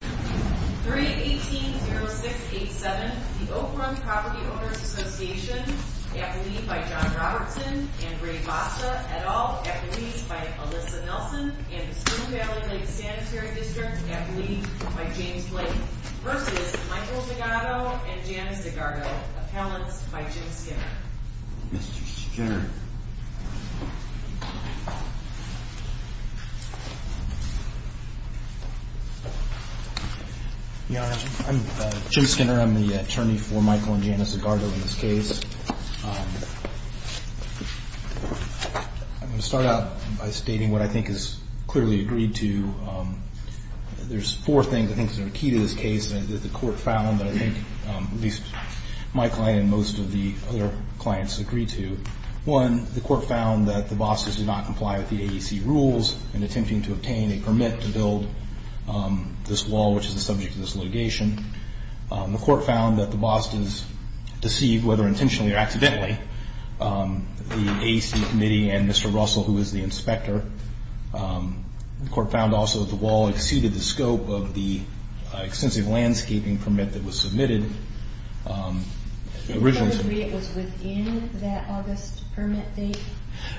318-0687, the Oak Run Property Owners Association, at the lead by John Robertson and Ray Vassa et al., at the lead by Alyssa Nelson and the Spring Valley Lake Sanitary District, at the lead by James Blake, v. Michael Zagardo and Janice Zagardo, appellants by Jim Skinner. Mr. Skinner. I'm Jim Skinner. I'm the attorney for Michael and Janice Zagardo in this case. I'm going to start out by stating what I think is clearly agreed to. There's four things I think that are key to this case that the Court found that I think at least my client and most of the other clients agreed to. One, the Court found that the bosses did not comply with the AEC rules in attempting to obtain a permit to build this wall, which is the subject of this litigation. The Court found that the bosses deceived, whether intentionally or accidentally, the AEC committee and Mr. Russell, who is the inspector. The Court found also that the wall exceeded the scope of the extensive landscaping permit that was submitted originally. Do you disagree it was within that August permit date?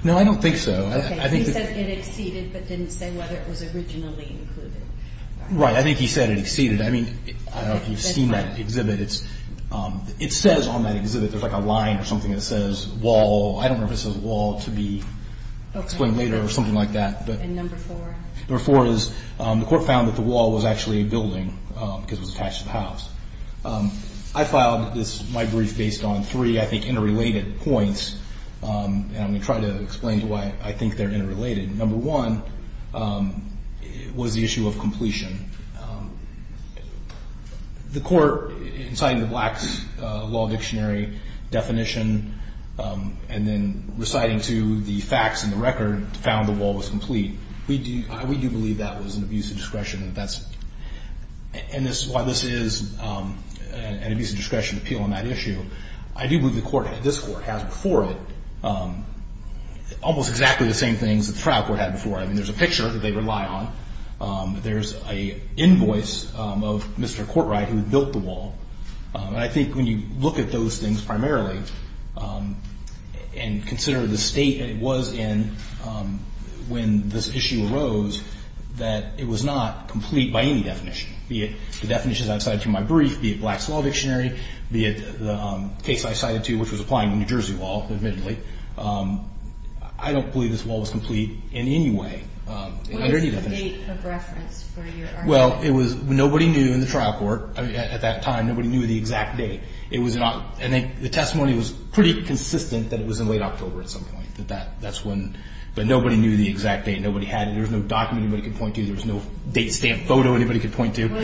No, I don't think so. Okay. He said it exceeded but didn't say whether it was originally included. Right. I think he said it exceeded. I mean, I don't know if you've seen that exhibit. It says on that exhibit, there's like a line or something that says wall. I don't know if it says wall to be explained later or something like that. And number four? Number four is the Court found that the wall was actually a building because it was attached to the house. I filed my brief based on three, I think, interrelated points, and I'm going to try to explain why I think they're interrelated. Number one was the issue of completion. The Court, in citing the Black's Law Dictionary definition and then reciting to the facts in the record, found the wall was complete. We do believe that was an abuse of discretion, and that's why this is an abuse of discretion appeal on that issue. I do believe the Court, this Court, has before it almost exactly the same things that the trial court had before. I mean, there's a picture that they rely on. There's an invoice of Mr. Courtright who built the wall. And I think when you look at those things primarily and consider the state that it was in when this issue arose, that it was not complete by any definition, be it the definitions I've cited from my brief, be it Black's Law Dictionary, be it the case I cited to which was applying to the New Jersey wall, admittedly, I don't believe this wall was complete in any way. What is the date of reference for your argument? Well, nobody knew in the trial court at that time. Nobody knew the exact date. And the testimony was pretty consistent that it was in late October at some point. But nobody knew the exact date. Nobody had it. There was no document anybody could point to. What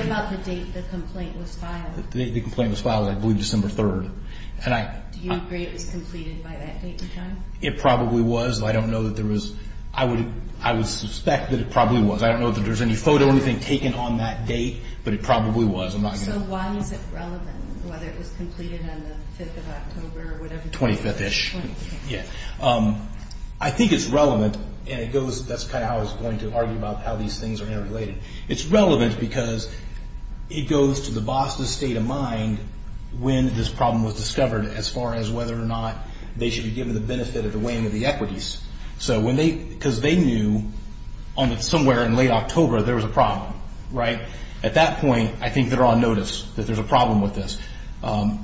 about the date the complaint was filed? The date the complaint was filed was, I believe, December 3rd. Do you agree it was completed by that date in time? It probably was. I don't know that there was. I would suspect that it probably was. I don't know that there was any photo or anything taken on that date, but it probably was. So why is it relevant, whether it was completed on the 5th of October or whatever? 25th-ish. 25th. Yeah. I think it's relevant, and that's kind of how I was going to argue about how these things are interrelated. It's relevant because it goes to the boss' state of mind when this problem was discovered as far as whether or not they should be given the benefit of the weighing of the equities. Because they knew somewhere in late October there was a problem. At that point, I think they're on notice that there's a problem with this. And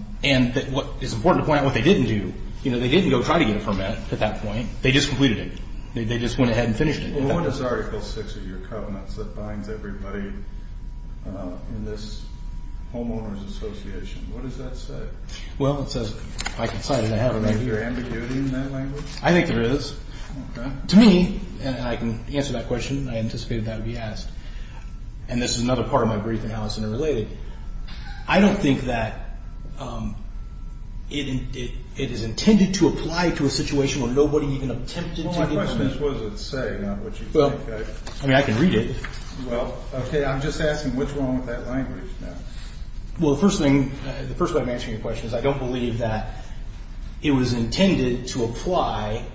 it's important to point out what they didn't do. They didn't go try to get a permit at that point. They just completed it. They just went ahead and finished it. Well, what does Article 6 of your covenants that binds everybody in this homeowners association, what does that say? Well, it says, if I can cite it, I have it right here. Is there ambiguity in that language? I think there is. Okay. To me, and I can answer that question. I anticipated that would be asked. And this is another part of my brief and how it's interrelated. I don't think that it is intended to apply to a situation where nobody even attempted to get the benefit. The question is, what does it say, not what you think. I mean, I can read it. Well, okay. I'm just asking, what's wrong with that language now? Well, the first thing, the first way I'm answering your question is I don't believe that it was intended to apply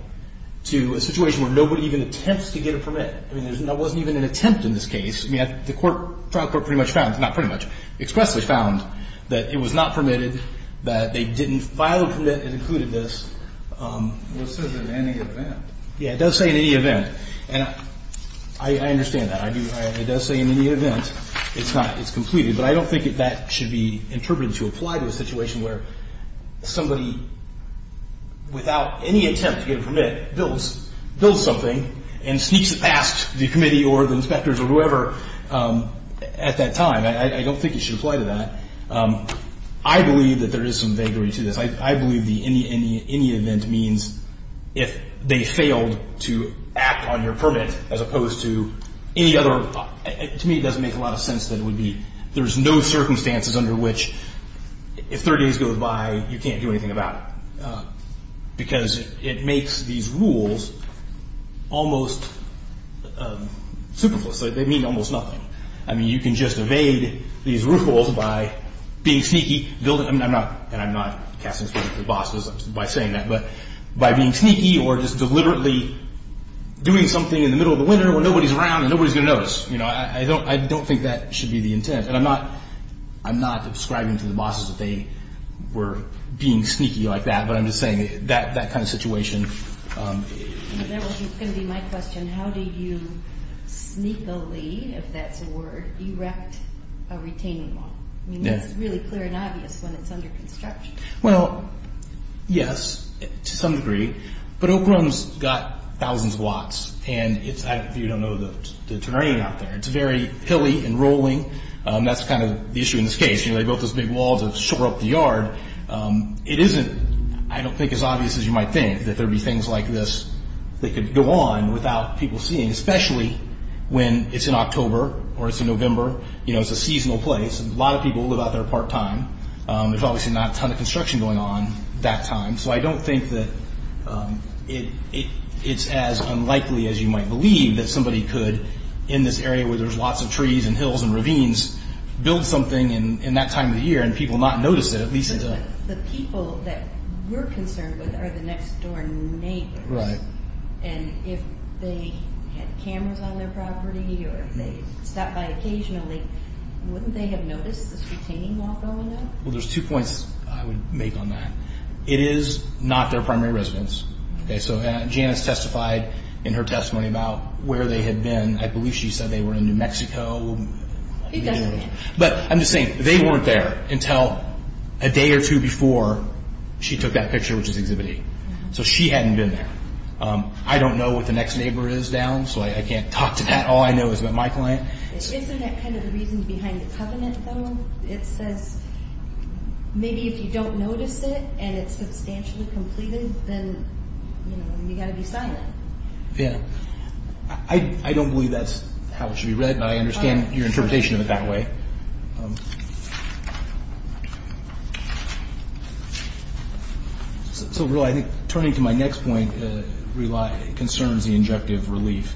to a situation where nobody even attempts to get a permit. I mean, there wasn't even an attempt in this case. I mean, the trial court pretty much found, not pretty much, expressly found that it was not permitted, that they didn't file a permit that included this. Well, it says in any event. Yeah, it does say in any event. And I understand that. I do. It does say in any event. It's not. It's completed. But I don't think that that should be interpreted to apply to a situation where somebody, without any attempt to get a permit, builds something and sneaks it past the committee or the inspectors or whoever at that time. I don't think it should apply to that. I believe that there is some vagary to this. I believe the any event means if they failed to act on your permit as opposed to any other. To me, it doesn't make a lot of sense that it would be. There's no circumstances under which if 30 days goes by, you can't do anything about it because it makes these rules almost superfluous. They mean almost nothing. I mean, you can just evade these rules by being sneaky. And I'm not casting a spell on the bosses by saying that, but by being sneaky or just deliberately doing something in the middle of the winter when nobody's around and nobody's going to notice. I don't think that should be the intent. And I'm not ascribing to the bosses that they were being sneaky like that, but I'm just saying that kind of situation. That was going to be my question. How do you sneakily, if that's a word, erect a retaining wall? I mean, it's really clear and obvious when it's under construction. Well, yes, to some degree. But Oak Grove's got thousands of lots, and you don't know the terrain out there. It's very hilly and rolling. That's kind of the issue in this case. They built this big wall to shore up the yard. It isn't, I don't think, as obvious as you might think that there would be things like this that could go on without people seeing, especially when it's in October or it's in November. It's a seasonal place. A lot of people live out there part-time. There's obviously not a ton of construction going on that time, so I don't think that it's as unlikely as you might believe that somebody could, in this area where there's lots of trees and hills and ravines, build something in that time of the year and people not notice it. But the people that we're concerned with are the next-door neighbors. Right. And if they had cameras on their property or if they stopped by occasionally, wouldn't they have noticed this retaining wall going up? Well, there's two points I would make on that. It is not their primary residence. So Janice testified in her testimony about where they had been. I believe she said they were in New Mexico. But I'm just saying, they weren't there until a day or two before she took that picture, which is Exhibit E. So she hadn't been there. I don't know what the next neighbor is down, so I can't talk to that. All I know is about my client. Isn't that kind of the reason behind the covenant, though? It says maybe if you don't notice it and it's substantially completed, then you've got to be silent. Yeah. I don't believe that's how it should be read, but I understand your interpretation of it that way. So, really, I think turning to my next point concerns the injective relief.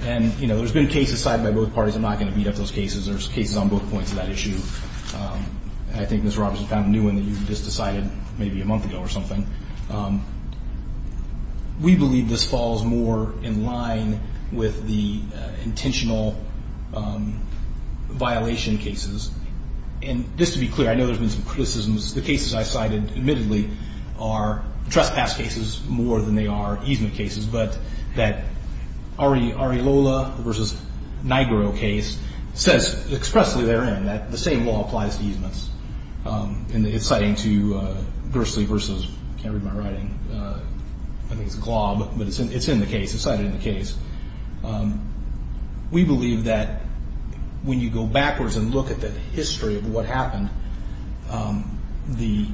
And, you know, there's been cases cited by both parties. I'm not going to beat up those cases. There's cases on both points of that issue. I think Ms. Roberts was found new in that you just decided maybe a month ago or something. We believe this falls more in line with the intentional violation cases. And just to be clear, I know there's been some criticisms. The cases I cited admittedly are trespass cases more than they are easement cases, but that Ari Lola versus Nigro case says expressly therein that the same law applies to easements. And it's citing to Gursley versus, I can't read my writing. I think it's Glob, but it's in the case. It's cited in the case. We believe that when you go backwards and look at the history of what happened, the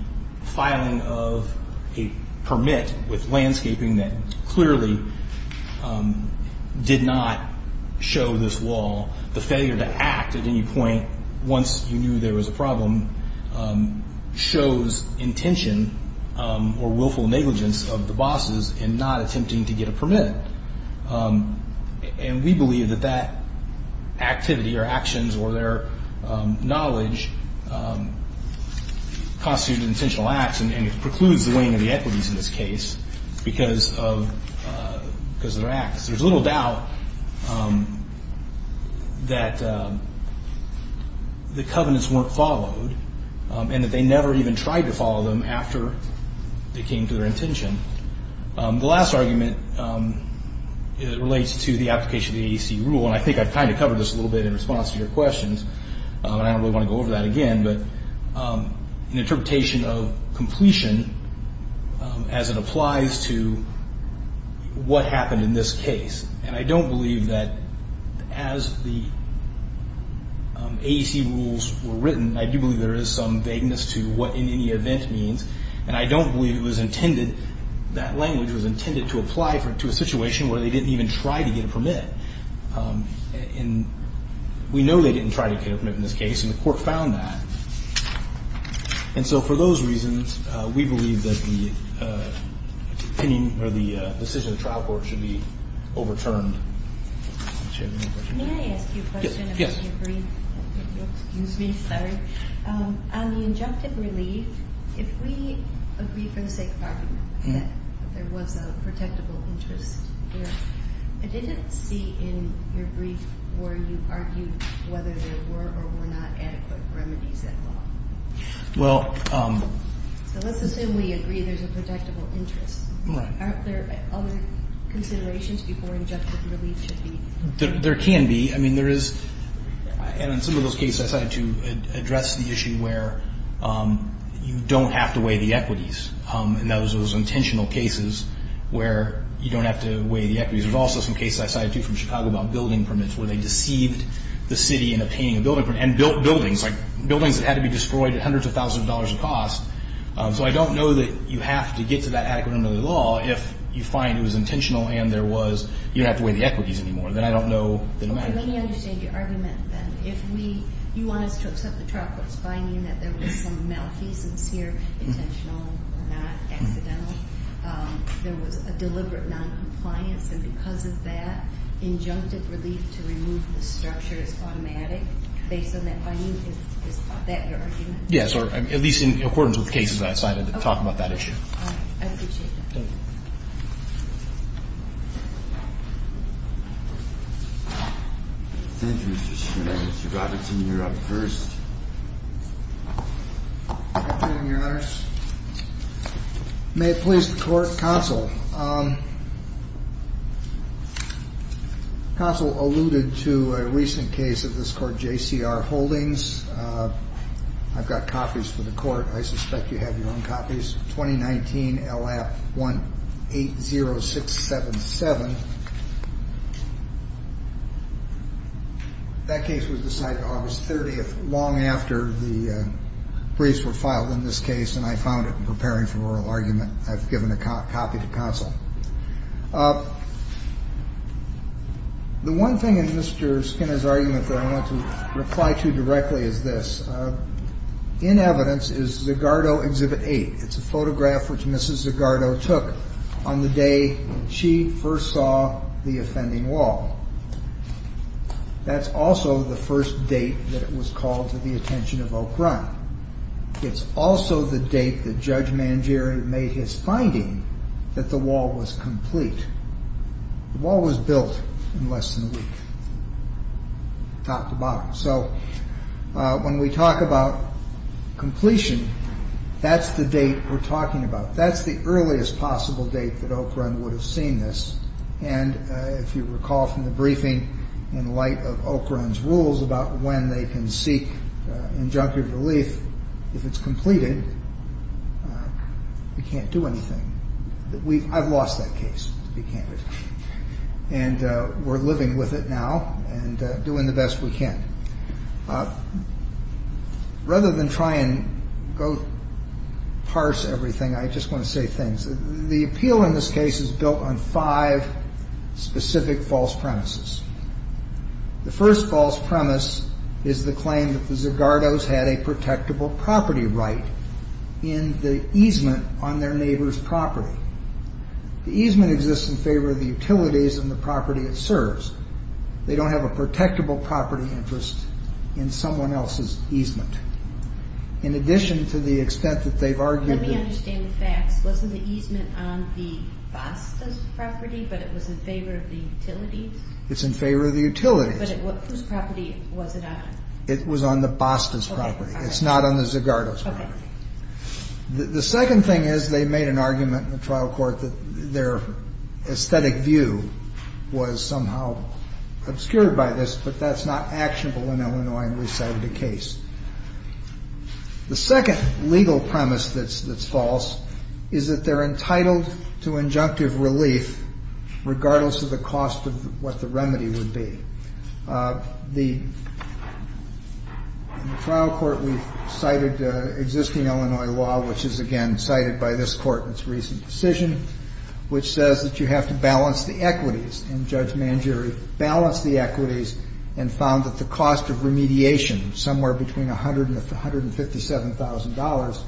filing of a permit with landscaping that clearly did not show this wall, the failure to act at any point once you knew there was a problem shows intention or willful negligence of the bosses in not attempting to get a permit. And we believe that that activity or actions or their knowledge constitutes an intentional act, and it precludes the weighing of the equities in this case because of their acts. There's little doubt that the covenants weren't followed and that they never even tried to follow them after they came to their intention. The last argument relates to the application of the AEC rule, and I think I've kind of covered this a little bit in response to your questions, and I don't really want to go over that again, but an interpretation of completion as it applies to what happened in this case. And I don't believe that as the AEC rules were written, I do believe there is some vagueness to what any event means, and I don't believe it was intended, that language was intended to apply to a situation where they didn't even try to get a permit. And we know they didn't try to get a permit in this case, and the court found that. And so for those reasons, we believe that the decision of the trial court should be overturned. Do you have any questions? May I ask you a question? Yes. Excuse me. Sorry. There was a protectable interest here. I didn't see in your brief where you argued whether there were or were not adequate remedies at law. Well. So let's assume we agree there's a protectable interest. Aren't there other considerations before injunctive relief should be? There can be. I mean, there is. And in some of those cases, I tried to address the issue where you don't have to weigh the equities, and that was those intentional cases where you don't have to weigh the equities. There's also some cases I cited, too, from Chicago about building permits where they deceived the city in obtaining a building permit and built buildings, like buildings that had to be destroyed at hundreds of thousands of dollars of cost. So I don't know that you have to get to that adequate remedy law if you find it was intentional and there was you don't have to weigh the equities anymore. That I don't know. Let me understand your argument, then. You want us to accept the trial court's finding that there was some malfeasance here, intentional or not, accidental. There was a deliberate noncompliance. And because of that, injunctive relief to remove the structure is automatic. Based on that finding, is that your argument? Yes, or at least in accordance with cases I cited to talk about that issue. All right. I appreciate that. Thank you. Thank you, Mr. Schneider. Mr. Robinson, you're up first. Thank you, Your Honors. May it please the court, counsel. Counsel alluded to a recent case of this court, JCR Holdings. I've got copies for the court. I suspect you have your own copies. The case is 2019 LAP 180677. That case was decided August 30th, long after the briefs were filed in this case, and I found it in preparing for oral argument. I've given a copy to counsel. The one thing in Mr. Skinner's argument that I want to reply to directly is this. In evidence is Zagardo Exhibit 8. It's a photograph which Mrs. Zagardo took on the day she first saw the offending wall. That's also the first date that it was called to the attention of Oak Run. It's also the date that Judge Mangieri made his finding that the wall was complete. The wall was built in less than a week, top to bottom. When we talk about completion, that's the date we're talking about. That's the earliest possible date that Oak Run would have seen this. If you recall from the briefing in light of Oak Run's rules about when they can seek injunctive relief, if it's completed, we can't do anything. I've lost that case, to be candid. We're living with it now and doing the best we can. Rather than try and go parse everything, I just want to say things. The appeal in this case is built on five specific false premises. The first false premise is the claim that the Zagardos had a protectable property right in the easement on their neighbor's property. The easement exists in favor of the utilities and the property it serves. They don't have a protectable property interest in someone else's easement. In addition to the extent that they've argued that- Let me understand the facts. Wasn't the easement on the Bastas' property, but it was in favor of the utilities? It's in favor of the utilities. But whose property was it on? It was on the Bastas' property. It's not on the Zagardos' property. The second thing is they made an argument in the trial court that their aesthetic view was somehow obscured by this, but that's not actionable in Illinois and we cited a case. The second legal premise that's false is that they're entitled to injunctive relief regardless of the cost of what the remedy would be. In the trial court, we cited existing Illinois law, which is again cited by this court in its recent decision, which says that you have to balance the equities. And Judge Mangieri balanced the equities and found that the cost of remediation, somewhere between $100,000 and $157,000,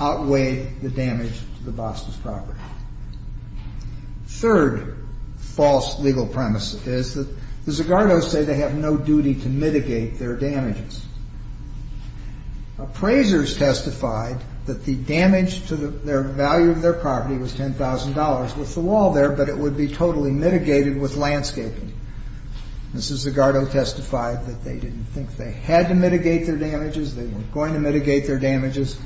outweighed the damage to the Bastas' property. Third false legal premise is that the Zagardos say they have no duty to mitigate their damages. Appraisers testified that the damage to their value of their property was $10,000 with the wall there, but it would be totally mitigated with landscaping. Mrs. Zagardo testified that they didn't think they had to mitigate their damages, they were going to mitigate their damages,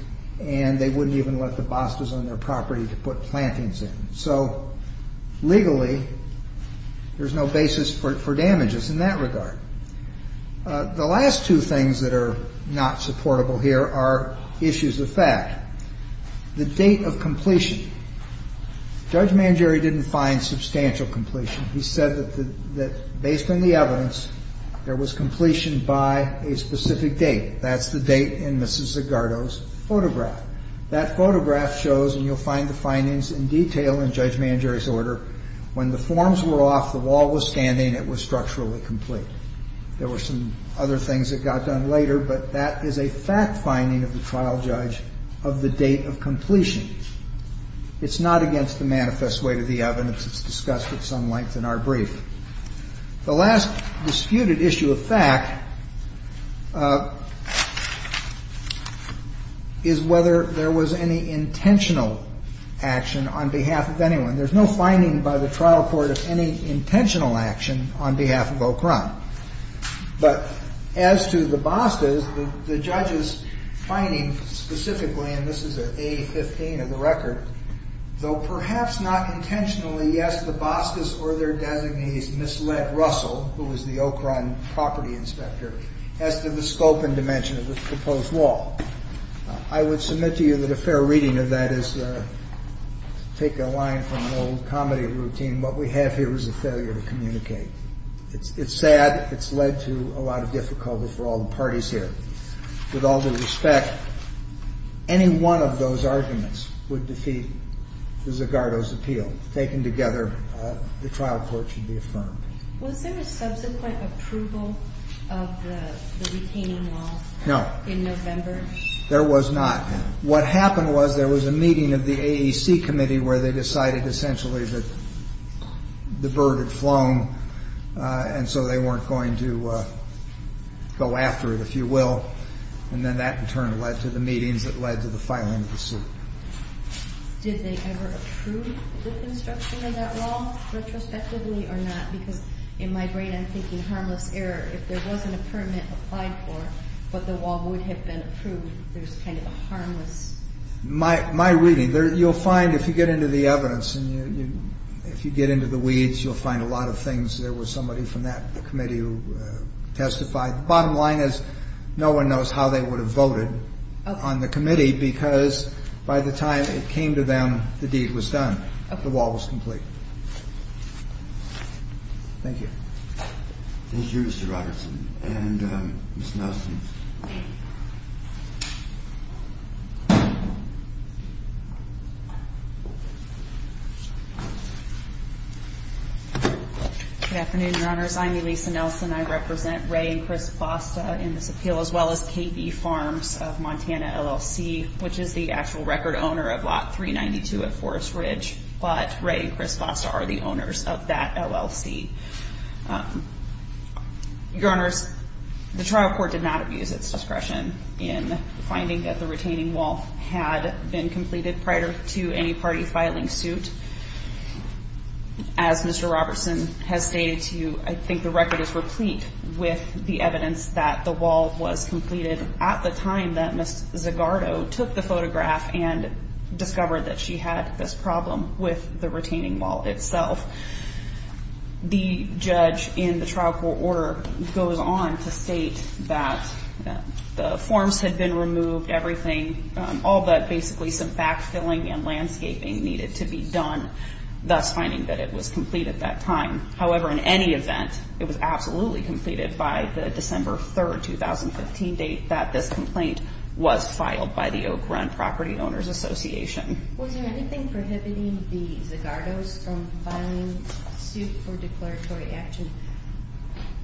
and they wouldn't even let the Bastas on their property to put plantings in. So legally, there's no basis for damages in that regard. The last two things that are not supportable here are issues of fact. The date of completion. Judge Mangieri didn't find substantial completion. He said that based on the evidence, there was completion by a specific date. That's the date in Mrs. Zagardo's photograph. That photograph shows, and you'll find the findings in detail in Judge Mangieri's order, when the forms were off, the wall was standing, it was structurally complete. There were some other things that got done later, but that is a fact finding of the trial judge of the date of completion. It's not against the manifest weight of the evidence. It's discussed at some length in our brief. The last disputed issue of fact is whether there was any intentional action on behalf of anyone. There's no finding by the trial court of any intentional action on behalf of O'Krum. But as to the Bastas, the judge's finding specifically, and this is A-15 of the record, though perhaps not intentionally, yes, the Bastas or their designees misled Russell, who was the O'Krum property inspector, as to the scope and dimension of this proposed wall. I would submit to you that a fair reading of that is to take a line from an old comedy routine. What we have here is a failure to communicate. It's sad. It's led to a lot of difficulty for all the parties here. With all due respect, any one of those arguments would defeat the Zagato's appeal. Taken together, the trial court should be affirmed. Was there a subsequent approval of the retaining wall? No. In November? There was not. What happened was there was a meeting of the AEC committee where they decided essentially that the bird had flown, and so they weren't going to go after it, if you will, and then that in turn led to the meetings that led to the filing of the suit. Did they ever approve the construction of that wall retrospectively or not? Because in my brain I'm thinking harmless error. If there wasn't a permit applied for but the wall would have been approved, there's kind of a harmless error. My reading, you'll find if you get into the evidence, and if you get into the weeds, you'll find a lot of things. There was somebody from that committee who testified. The bottom line is no one knows how they would have voted on the committee because by the time it came to them, the deed was done. The wall was complete. Thank you. Thank you, Mr. Robertson. And Ms. Nelson. Good afternoon, Your Honors. I'm Elisa Nelson. I represent Ray and Chris Foster in this appeal as well as KB Farms of Montana LLC, which is the actual record owner of Lot 392 at Forest Ridge, but Ray and Chris Foster are the owners of that LLC. Your Honors, the trial court did not abuse its discretion in finding that the retaining wall had been completed prior to any party filing suit. As Mr. Robertson has stated to you, I think the record is replete with the evidence that the wall was completed at the time that Ms. Zagardo took the photograph and discovered that she had this problem with the retaining wall itself. The judge in the trial court order goes on to state that the forms had been removed, everything, all but basically some backfilling and landscaping needed to be done, thus finding that it was complete at that time. However, in any event, it was absolutely completed by the December 3, 2015, date that this complaint was filed by the Oak Run Property Owners Association. Was there anything prohibiting the Zagardos from filing suit for declaratory action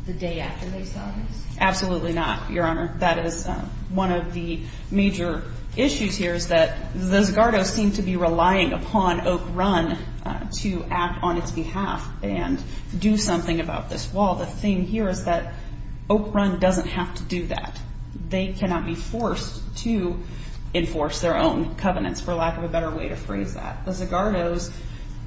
the day after they saw this? Absolutely not, Your Honor. That is one of the major issues here is that the Zagardos seem to be relying upon Oak Run to act on its behalf and do something about this wall. The thing here is that Oak Run doesn't have to do that. They cannot be forced to enforce their own covenants, for lack of a better way to phrase that. The Zagardos,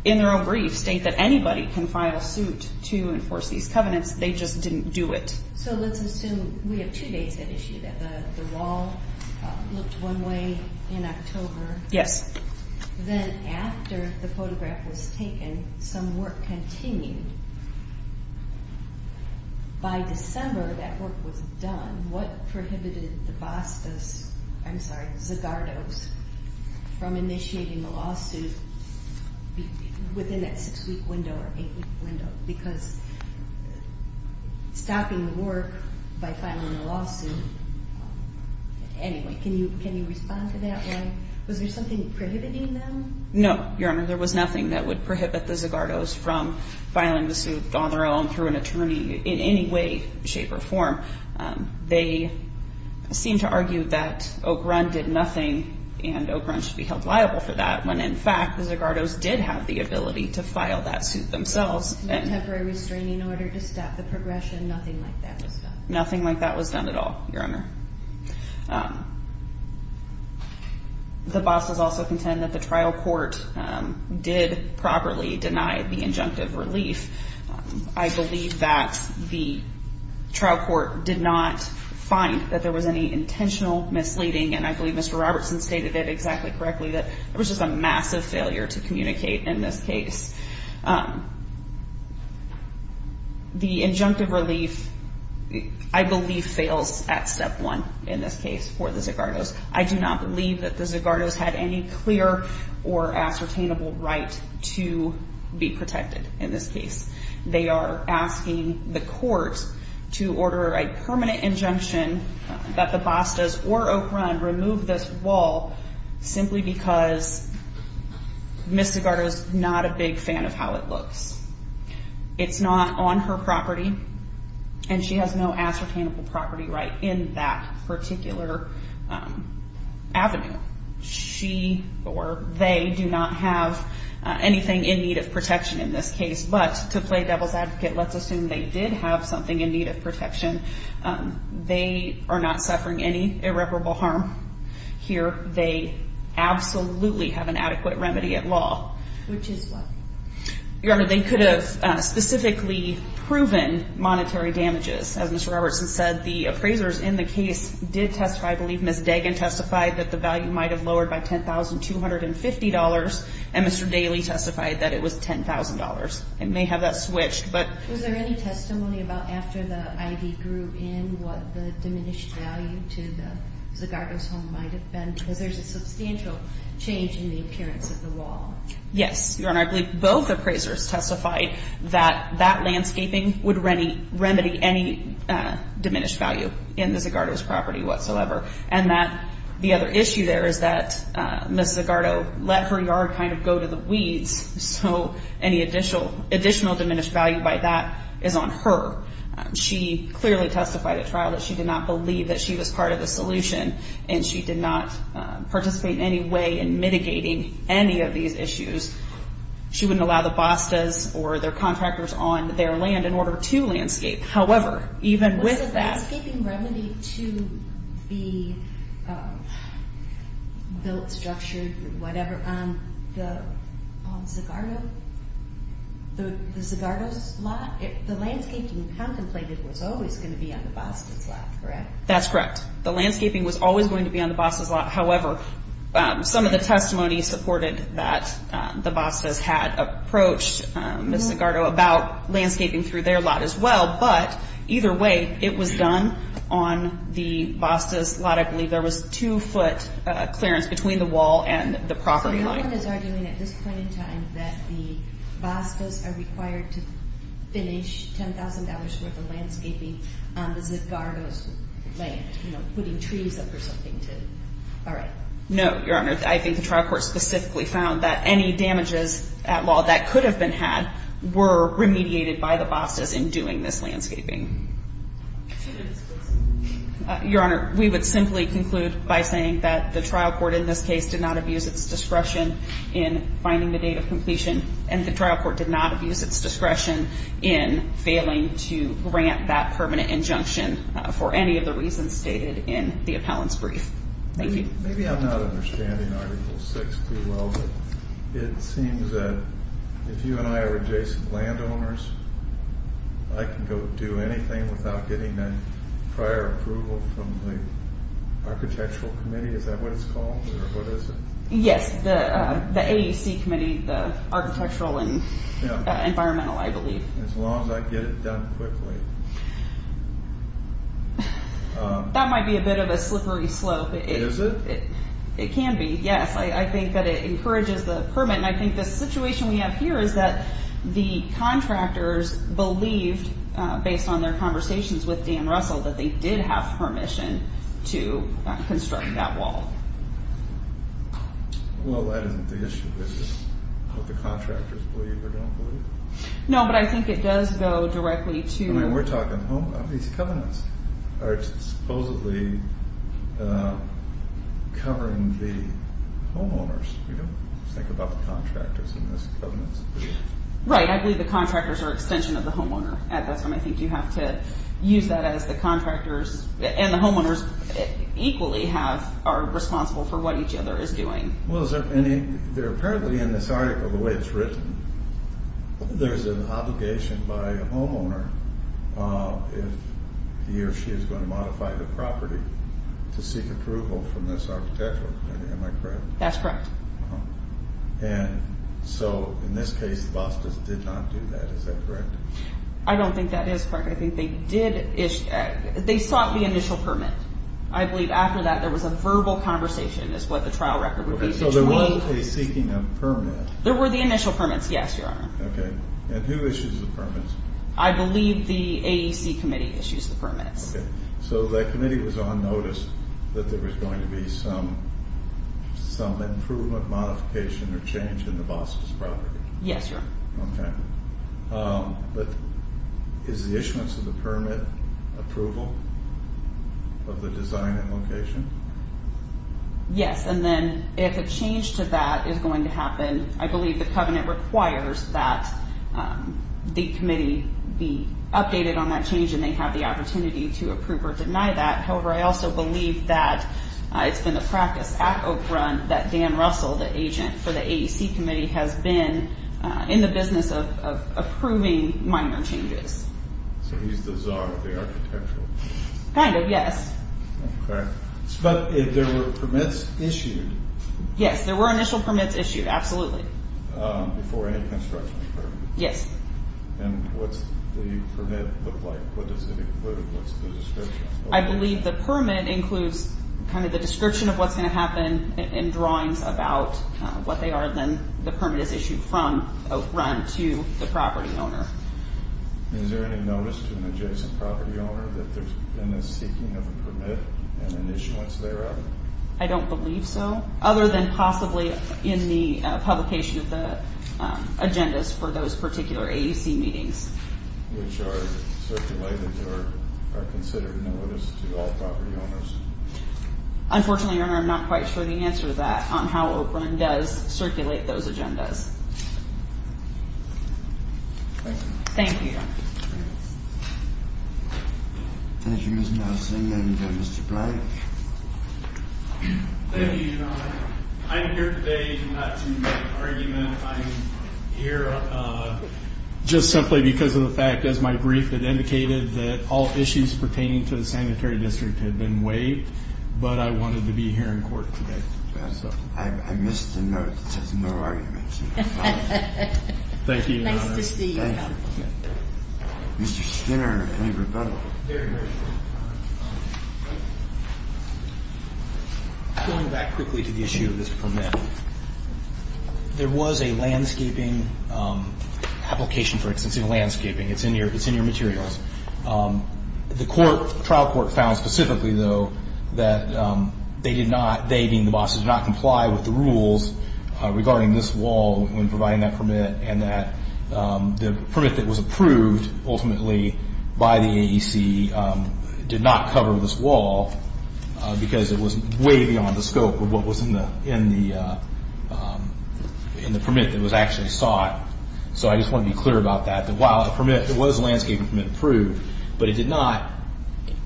in their own brief, state that anybody can file suit to enforce these covenants. They just didn't do it. So let's assume we have two dates at issue, that the wall looked one way in October. Yes. Then after the photograph was taken, some work continued. By December, that work was done. What prohibited the Zagardos from initiating the lawsuit within that 6-week window or 8-week window? Because stopping the work by filing a lawsuit, anyway, can you respond to that one? Was there something prohibiting them? No, Your Honor. There was nothing that would prohibit the Zagardos from filing the suit on their own, through an attorney, in any way, shape, or form. They seem to argue that Oak Run did nothing, and Oak Run should be held liable for that, when, in fact, the Zagardos did have the ability to file that suit themselves. No temporary restraining order to stop the progression? Nothing like that was done? Nothing like that was done at all, Your Honor. The bosses also contend that the trial court did properly deny the injunctive relief. I believe that the trial court did not find that there was any intentional misleading, and I believe Mr. Robertson stated it exactly correctly, that it was just a massive failure to communicate in this case. The injunctive relief, I believe, fails at step one, in this case, for the Zagardos. I do not believe that the Zagardos had any clear or ascertainable right to be protected in this case. They are asking the court to order a permanent injunction that the Bastas or Oak Run remove this wall, simply because Ms. Zagardo is not a big fan of how it looks. It's not on her property, and she has no ascertainable property right in that particular avenue. She or they do not have anything in need of protection in this case, but to play devil's advocate, let's assume they did have something in need of protection. They are not suffering any irreparable harm here. They absolutely have an adequate remedy at law. Which is what? Your Honor, they could have specifically proven monetary damages. As Mr. Robertson said, the appraisers in the case did testify. I believe Ms. Dagan testified that the value might have lowered by $10,250, and Mr. Daley testified that it was $10,000. They may have that switched, but – to the Zagardo's home might have been, because there's a substantial change in the appearance of the wall. Yes, Your Honor. I believe both appraisers testified that that landscaping would remedy any diminished value in the Zagardo's property whatsoever, and that the other issue there is that Ms. Zagardo let her yard kind of go to the weeds, so any additional diminished value by that is on her. She clearly testified at trial that she did not believe that she was part of the solution, and she did not participate in any way in mitigating any of these issues. She wouldn't allow the Bostas or their contractors on their land in order to landscape. However, even with that – Was the landscaping remedy to be built, structured, whatever on the Zagardo's lot? The landscaping contemplated was always going to be on the Bostas' lot, correct? That's correct. The landscaping was always going to be on the Bostas' lot. However, some of the testimony supported that the Bostas had approached Ms. Zagardo about landscaping through their lot as well, but either way, it was done on the Bostas' lot. I believe there was two-foot clearance between the wall and the property line. The court is arguing at this point in time that the Bostas are required to finish $10,000 worth of landscaping on the Zagardo's land, you know, putting trees up or something to – all right. No, Your Honor. I think the trial court specifically found that any damages at law that could have been had were remediated by the Bostas in doing this landscaping. Your Honor, we would simply conclude by saying that the trial court in this case did not abuse its discretion in finding the date of completion, and the trial court did not abuse its discretion in failing to grant that permanent injunction for any of the reasons stated in the appellant's brief. Thank you. Maybe I'm not understanding Article VI too well, but it seems that if you and I are adjacent landowners, I can go do anything without getting a prior approval from the architectural committee. Is that what it's called, or what is it? Yes, the AEC committee, the architectural and environmental, I believe. As long as I get it done quickly. That might be a bit of a slippery slope. Is it? It can be, yes. I think that it encourages the permit, and I think the situation we have here is that the contractors believed, based on their conversations with Dan Russell, that they did have permission to construct that wall. Well, that isn't the issue, is it? What the contractors believe or don't believe. No, but I think it does go directly to... I mean, we're talking homeowners. These covenants are supposedly covering the homeowners. We don't think about the contractors in these covenants. Right, I believe the contractors are an extension of the homeowner. That's why I think you have to use that as the contractors, and the homeowners equally are responsible for what each other is doing. Well, apparently in this article, the way it's written, there's an obligation by a homeowner if he or she is going to modify the property to seek approval from this architectural committee, am I correct? That's correct. And so in this case, the Bostas did not do that, is that correct? I don't think that is correct. I think they sought the initial permit. I believe after that there was a verbal conversation, is what the trial record would be, between... Okay, so there wasn't a seeking of permit. There were the initial permits, yes, Your Honor. I believe the AEC committee issues the permits. So the committee was on notice that there was going to be some improvement, modification, or change in the Bostas property? Yes, Your Honor. Okay. But is the issuance of the permit approval of the design and location? Yes, and then if a change to that is going to happen, I believe the covenant requires that the committee be updated on that change and they have the opportunity to approve or deny that. However, I also believe that it's been the practice at Oak Run that Dan Russell, the agent for the AEC committee, has been in the business of approving minor changes. So he's the czar of the architecture? Kind of, yes. Okay. But there were permits issued? Yes, there were initial permits issued, absolutely. Before any construction occurred? Yes. And what's the permit look like? What does it include? What's the description? I believe the permit includes kind of the description of what's going to happen and drawings about what they are. Then the permit is issued from Oak Run to the property owner. Is there any notice to an adjacent property owner that there's been a seeking of a permit and an issuance thereof? I don't believe so, other than possibly in the publication of the agendas for those particular AEC meetings. Which are circulated or are considered notice to all property owners? Unfortunately, Your Honor, I'm not quite sure the answer to that on how Oak Run does circulate those agendas. Thank you. Thank you. Thank you, Ms. Nelson. And Mr. Blake? Thank you, Your Honor. I'm here today not to argument. I'm here just simply because of the fact, as my brief had indicated, that all issues pertaining to the sanitary district had been waived. But I wanted to be here in court today. I missed the note that says no arguments. Thank you, Your Honor. Nice to see you. Thank you. Mr. Skinner, any rebuttal? Very briefly. Going back quickly to the issue of this permit, there was a landscaping application for extensive landscaping. It's in your materials. The trial court found specifically, though, that they did not, they being the bosses, did not comply with the rules regarding this wall when providing that permit and that the permit that was approved ultimately by the AEC did not cover this wall because it was way beyond the scope of what was in the permit that was actually sought. So I just want to be clear about that. While the permit, it was a landscaping permit approved, but it did not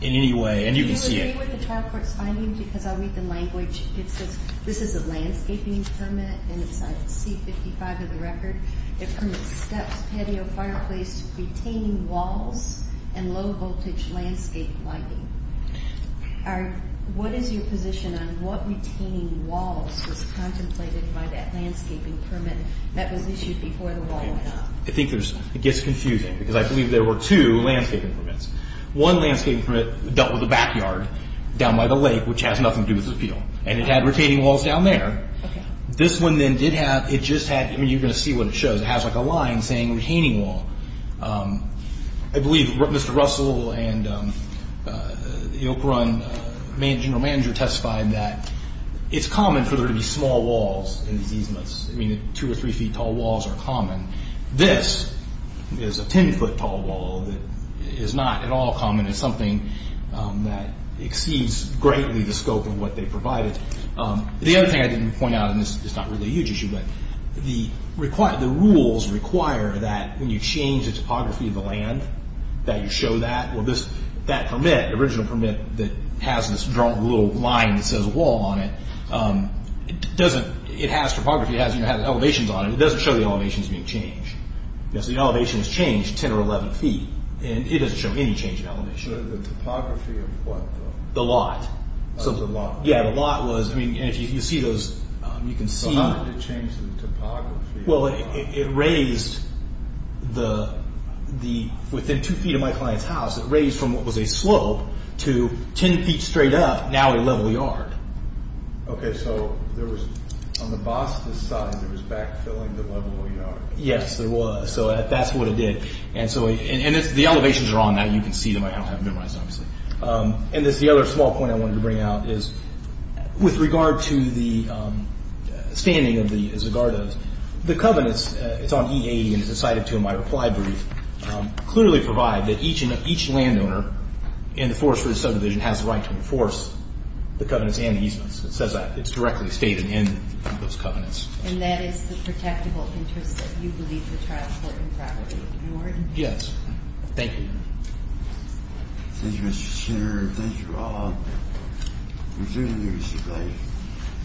in any way. And you can see it. Do you agree with the trial court's findings? Because I'll read the language. It says this is a landscaping permit, and it's on C-55 of the record. It permits steps, patio, fireplace, retaining walls, and low-voltage landscape lighting. What is your position on what retaining walls was contemplated by that landscaping permit that was issued before the wall went up? I think it gets confusing because I believe there were two landscaping permits. One landscaping permit dealt with the backyard down by the lake, which has nothing to do with this appeal. And it had retaining walls down there. This one then did have, it just had, I mean, you're going to see what it shows. It has like a line saying retaining wall. I believe Mr. Russell and the Oak Run general manager testified that it's common for there to be small walls in these easements. I mean, two or three feet tall walls are common. This is a 10-foot tall wall that is not at all common. It's something that exceeds greatly the scope of what they provided. The other thing I didn't point out, and this is not really a huge issue, but the rules require that when you change the topography of the land, that you show that. Well, that permit, the original permit that has this drawn little line that says wall on it, it has topography, it has elevations on it. It doesn't show the elevations being changed. So the elevation is changed 10 or 11 feet, and it doesn't show any change in elevation. The topography of what, though? The lot. The lot. Yeah, the lot was, I mean, you see those, you can see. So how did it change the topography? Well, it raised the, within two feet of my client's house, it raised from what was a slope to 10 feet straight up, now a level yard. Okay, so there was, on the boss's side, there was backfilling the level yard. Yes, there was. So that's what it did. And so, and the elevations are on that. You can see them. I don't have them memorized, obviously. And the other small point I wanted to bring out is with regard to the standing of the Zagardos, the covenants, it's on EA, and it's cited to in my reply brief, clearly provide that each landowner in the Forest Ridge subdivision has the right to enforce the covenants and easements. It says that. It's directly stated in those covenants. And that is the protectable interest that you believe to transport and property of New Orleans? Yes. Thank you. Thank you, Mr. Senator. Thank you all. We're doing you a great favor.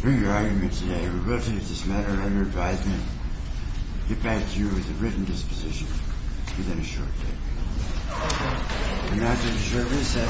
Bring your arguments today. We're going to take this matter under advisement. Get back to you with a written disposition within a short time.